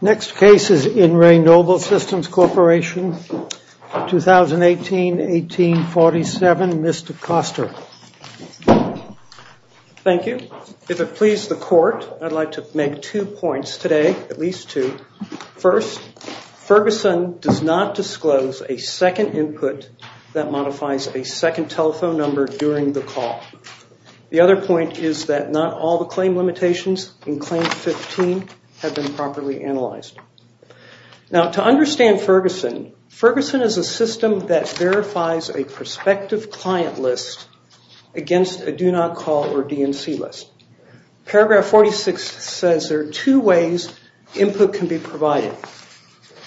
Next case is in Re Noble Systems Corporation. 2018-18-47, Mr. Koster. Thank you. If it pleases the court, I'd like to make two points today, at least two. First, Ferguson does not disclose a second input that modifies a second telephone number during the call. The other point is that not all the claim limitations in Claim 15 have been properly analyzed. Now, to understand Ferguson, Ferguson is a system that verifies a prospective client list against a do-not-call or DNC list. Paragraph 46 says there are two ways input can be provided.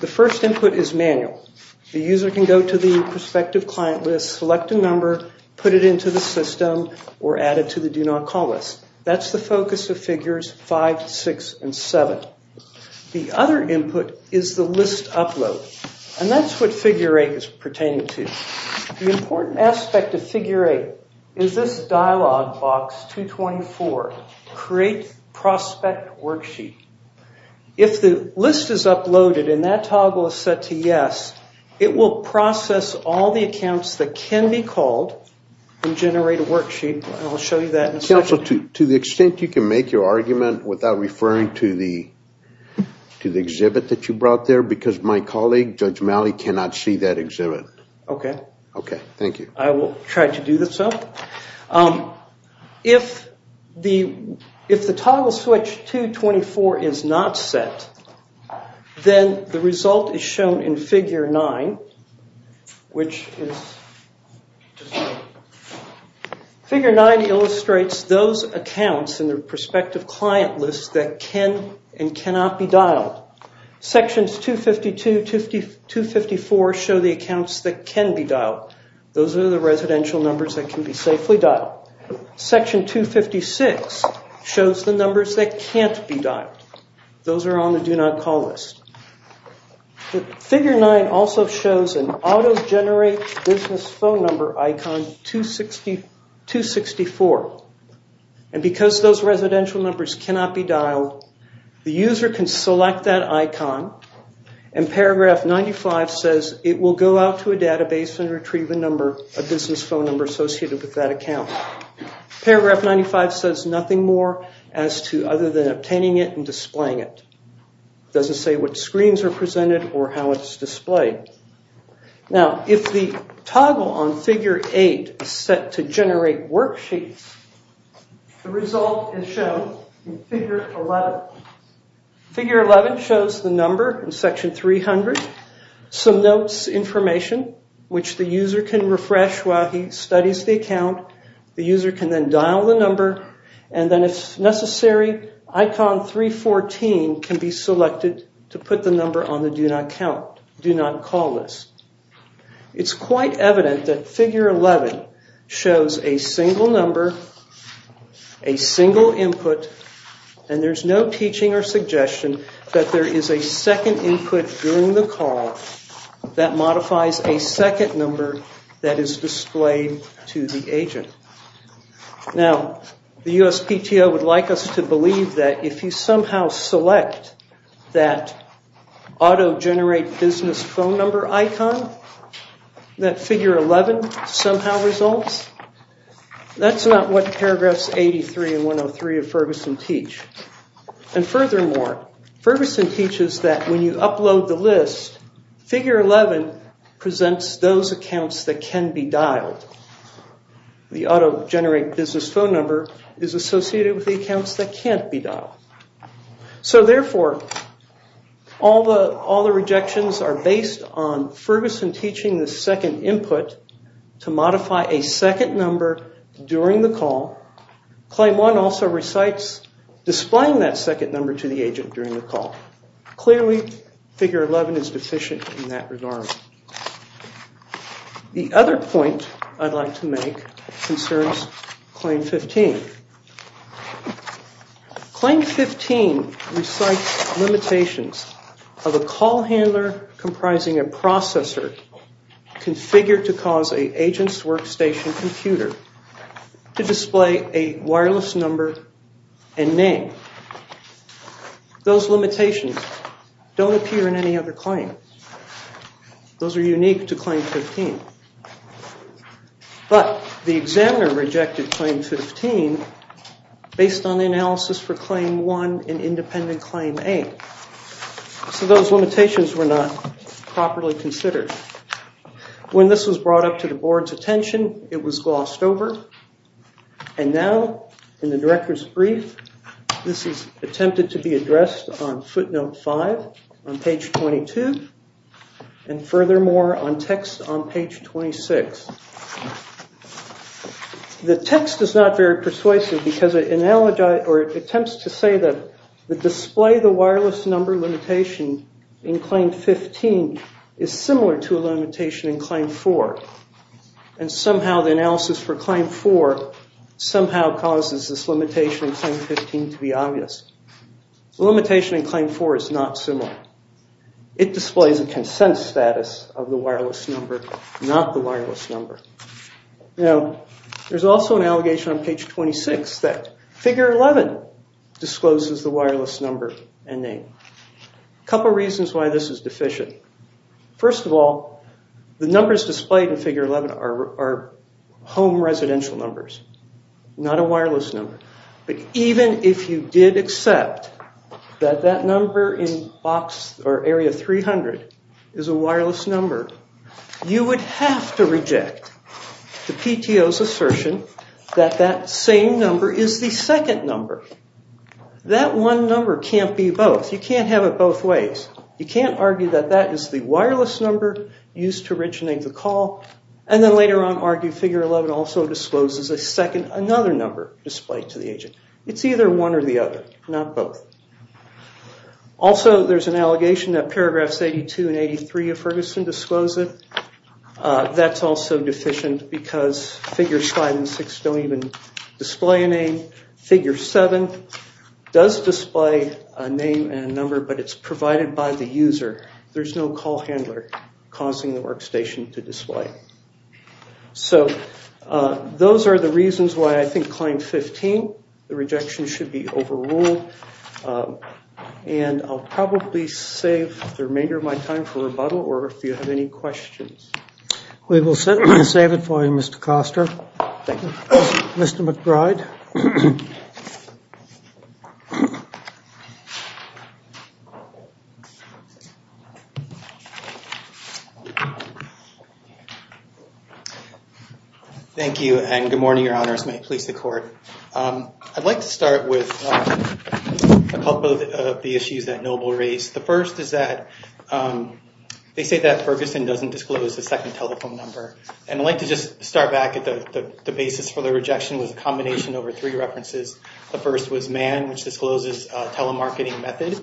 The first input is manual. The user can go to the prospective client list, select a number, put it into the system, or add it to the do-not-call list. That's the focus of figures 5, 6, and 7. The other input is the list upload, and that's what figure 8 is pertaining to. The important aspect of figure 8 is this dialog box 224, create prospect worksheet. If the list is uploaded and that toggle is set to yes, it will process all the accounts that can be called and generate a worksheet, and I'll show you that in a second. Also, to the extent you can make your argument without referring to the exhibit that you brought there, because my colleague, Judge Malley, cannot see that exhibit. Okay. Okay, thank you. I will try to do this up. If the toggle switch 224 is not set, then the result is shown in figure 9, which is... ...those accounts in the prospective client list that can and cannot be dialed. Sections 252, 254 show the accounts that can be dialed. Those are the residential numbers that can be safely dialed. Section 256 shows the numbers that can't be dialed. Those are on the do-not-call list. Figure 9 also shows an auto-generate business phone number icon 264. And because those residential numbers cannot be dialed, the user can select that icon and paragraph 95 says it will go out to a database and retrieve a number, a business phone number associated with that account. Paragraph 95 says nothing more as to other than obtaining it and displaying it. It doesn't say what screens are presented or how it's displayed. Now, if the toggle on figure 8 is set to generate worksheets, the result is shown in figure 11. Figure 11 shows the number in section 300, some notes, information, which the user can refresh while he studies the account. The user can then dial the number, and then if necessary, icon 314 can be selected to put the number on the do-not-call list. It's quite evident that figure 11 shows a single number, a single input, and there's no teaching or suggestion that there is a second input during the call that modifies a second number that is displayed to the agent. Now, the USPTO would like us to believe that if you somehow select that auto-generate business phone number icon, that figure 11 somehow results. That's not what paragraphs 83 and 103 of Ferguson teach. And furthermore, Ferguson teaches that when you upload the list, figure 11 presents those accounts that can be dialed. The auto-generate business phone number is associated with the accounts that can't be dialed. So therefore, all the rejections are based on Ferguson teaching the second input to modify a second number during the call. Claim 1 also recites displaying that second number to the agent during the call. Clearly, figure 11 is deficient in that regard. The other point I'd like to make concerns Claim 15. Claim 15 recites limitations of a call handler comprising a processor configured to cause an agent's workstation computer to display a wireless number and name. Those limitations don't appear in any other claim. Those are unique to Claim 15. But the examiner rejected Claim 15 based on the analysis for Claim 1 and independent Claim 8. So those limitations were not properly considered. When this was brought up to the board's attention, it was glossed over. And now, in the director's brief, this is attempted to be addressed on footnote 5 on page 22. And furthermore, on text on page 26. The text is not very persuasive because it attempts to say that the display the wireless number limitation in Claim 15 is similar to a limitation in Claim 4. And somehow the analysis for Claim 4 somehow causes this limitation in Claim 15 to be obvious. The limitation in Claim 4 is not similar. It displays a consent status of the wireless number, not the wireless number. Now, there's also an allegation on page 26 that figure 11 discloses the wireless number and name. A couple reasons why this is deficient. First of all, the numbers displayed in figure 11 are home residential numbers, not a wireless number. But even if you did accept that that number in box or area 300 is a wireless number, you would have to reject the PTO's assertion that that same number is the second number. That one number can't be both. You can't have it both ways. You can't argue that that is the wireless number used to originate the call and then later on argue figure 11 also discloses a second, another number displayed to the agent. It's either one or the other, not both. Also, there's an allegation that paragraphs 82 and 83 of Ferguson disclose it. That's also deficient because figures 5 and 6 don't even display a name. Figure 7 does display a name and a number, but it's provided by the user. There's no call handler causing the workstation to display. So those are the reasons why I think claim 15, the rejection should be overruled. And I'll probably save the remainder of my time for rebuttal or if you have any questions. We will save it for you, Mr. Koster. Thank you. Mr. McBride. Thank you and good morning, Your Honors. May it please the court. I'd like to start with a couple of the issues that Noble raised. The first is that they say that Ferguson doesn't disclose the second telephone number. And I'd like to just start back at the basis for the rejection was a combination over three references. The first was Mann, which discloses a telemarketing method.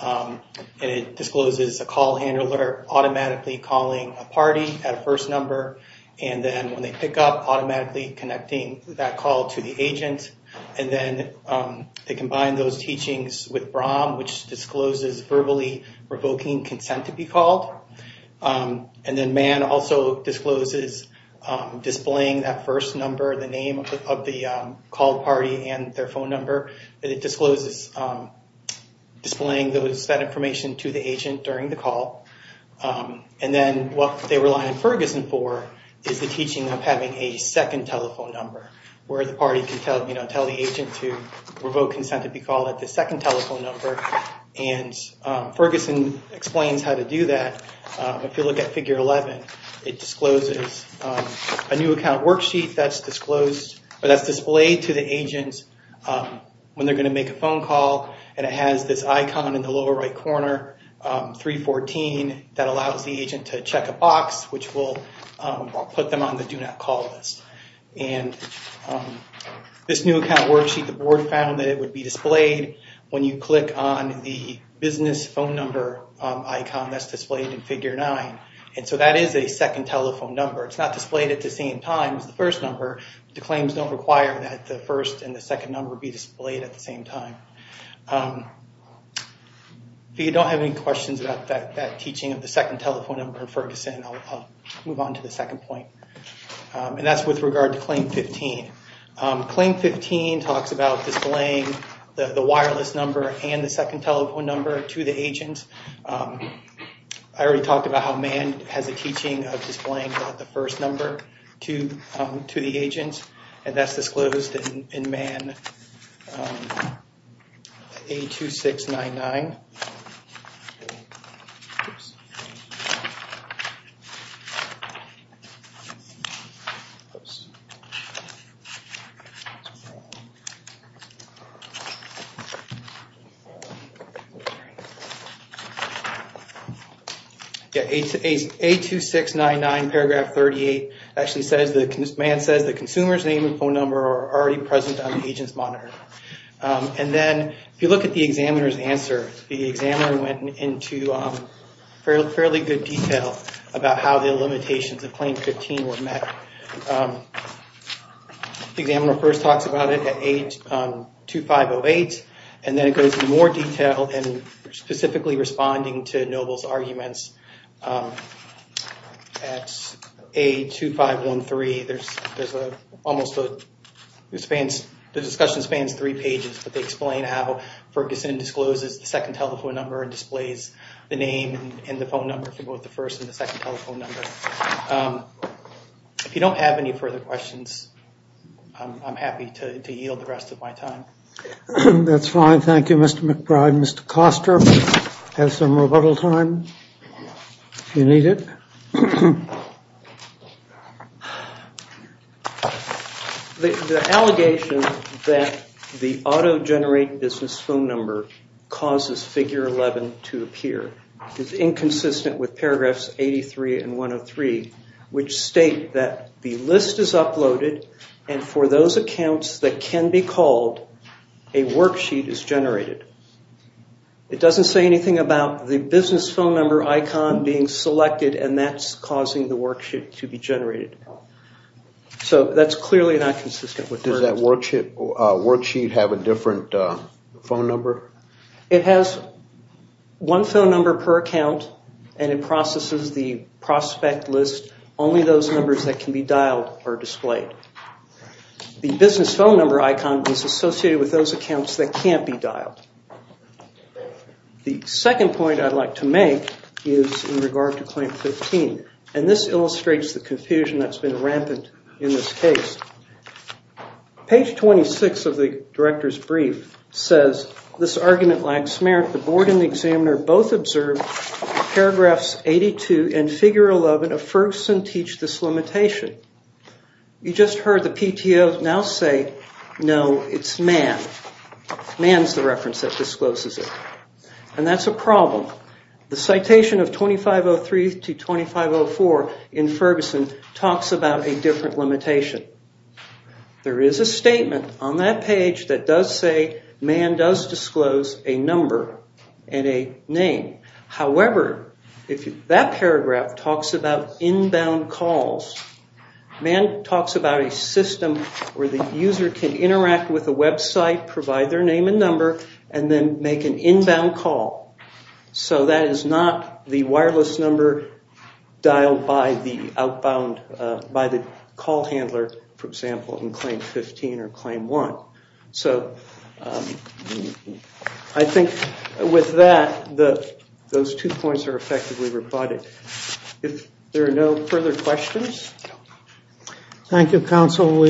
And it discloses a call handler automatically calling a party at a first number. And then when they pick up, automatically connecting that call to the agent. And then they combine those teachings with Brahm, which discloses verbally revoking consent to be called. And then Mann also discloses displaying that first number, the name of the call party and their phone number. And it discloses displaying that information to the agent during the call. And then what they rely on Ferguson for is the teaching of having a second telephone number, where the party can tell the agent to revoke consent to be called at the second telephone number. And Ferguson explains how to do that. If you look at figure 11, it discloses a new account worksheet that's disclosed, that's displayed to the agents when they're going to make a phone call. And it has this icon in the lower right corner, 314, that allows the agent to check a box, which will put them on the do not call list. And this new account worksheet, the board found that it would be displayed when you click on the business phone number icon that's displayed in figure 9. And so that is a second telephone number. It's not displayed at the same time as the first number. The claims don't require that the first and the second number be displayed at the same time. If you don't have any questions about that teaching of the second telephone number in Ferguson, I'll move on to the second point. And that's with regard to claim 15. Claim 15 talks about displaying the wireless number and the second telephone number to the agent. I already talked about how MAN has a teaching of displaying the first number to the agent. And that's disclosed in MAN 82699. Yeah, 82699, paragraph 38, actually says, MAN says the consumer's name and phone number are already present on the agent's monitor. And then if you look at the examiner's answer, the examiner went into fairly good detail about how the limitations of claim 15 were met. The examiner first talks about it at A2508. And then it goes into more detail and specifically responding to Noble's arguments at A2513. There's almost a, the discussion spans three pages, but they explain how Ferguson discloses the second telephone number and displays the name and the phone number for both the first and the second telephone number. If you don't have any further questions, I'm happy to yield the rest of my time. That's fine. Thank you, Mr. McBride. Mr. Koster has some rebuttal time if you need it. The allegation that the auto-generate business phone number causes figure 11 to appear is inconsistent with paragraphs 83 and 103, which state that the list is uploaded and for those accounts that can be called, a worksheet is generated. It doesn't say anything about the business phone number icon being selected and that's causing the worksheet to be generated. So that's clearly not consistent with this. Does that worksheet have a different phone number? It has one phone number per account and it processes the prospect list. Only those numbers that can be dialed are displayed. The business phone number icon is associated with those accounts that can't be dialed. The second point I'd like to make is in regard to Claim 15, and this illustrates the confusion that's been rampant in this case. Page 26 of the Director's Brief says this argument lacks merit. The board and the examiner both observed paragraphs 82 and figure 11 of Ferguson teach this limitation. You just heard the PTO now say, no, it's Mann. Mann's the reference that discloses it. And that's a problem. The citation of 2503 to 2504 in Ferguson talks about a different limitation. There is a statement on that page that does say Mann does disclose a number and a name. However, that paragraph talks about inbound calls. Mann talks about a system where the user can interact with a website, provide their name and number, and then make an inbound call. So that is not the wireless number dialed by the call handler, for example, in Claim 15 or Claim 1. So I think with that, those two points are effectively rebutted. If there are no further questions. Thank you, Counsel.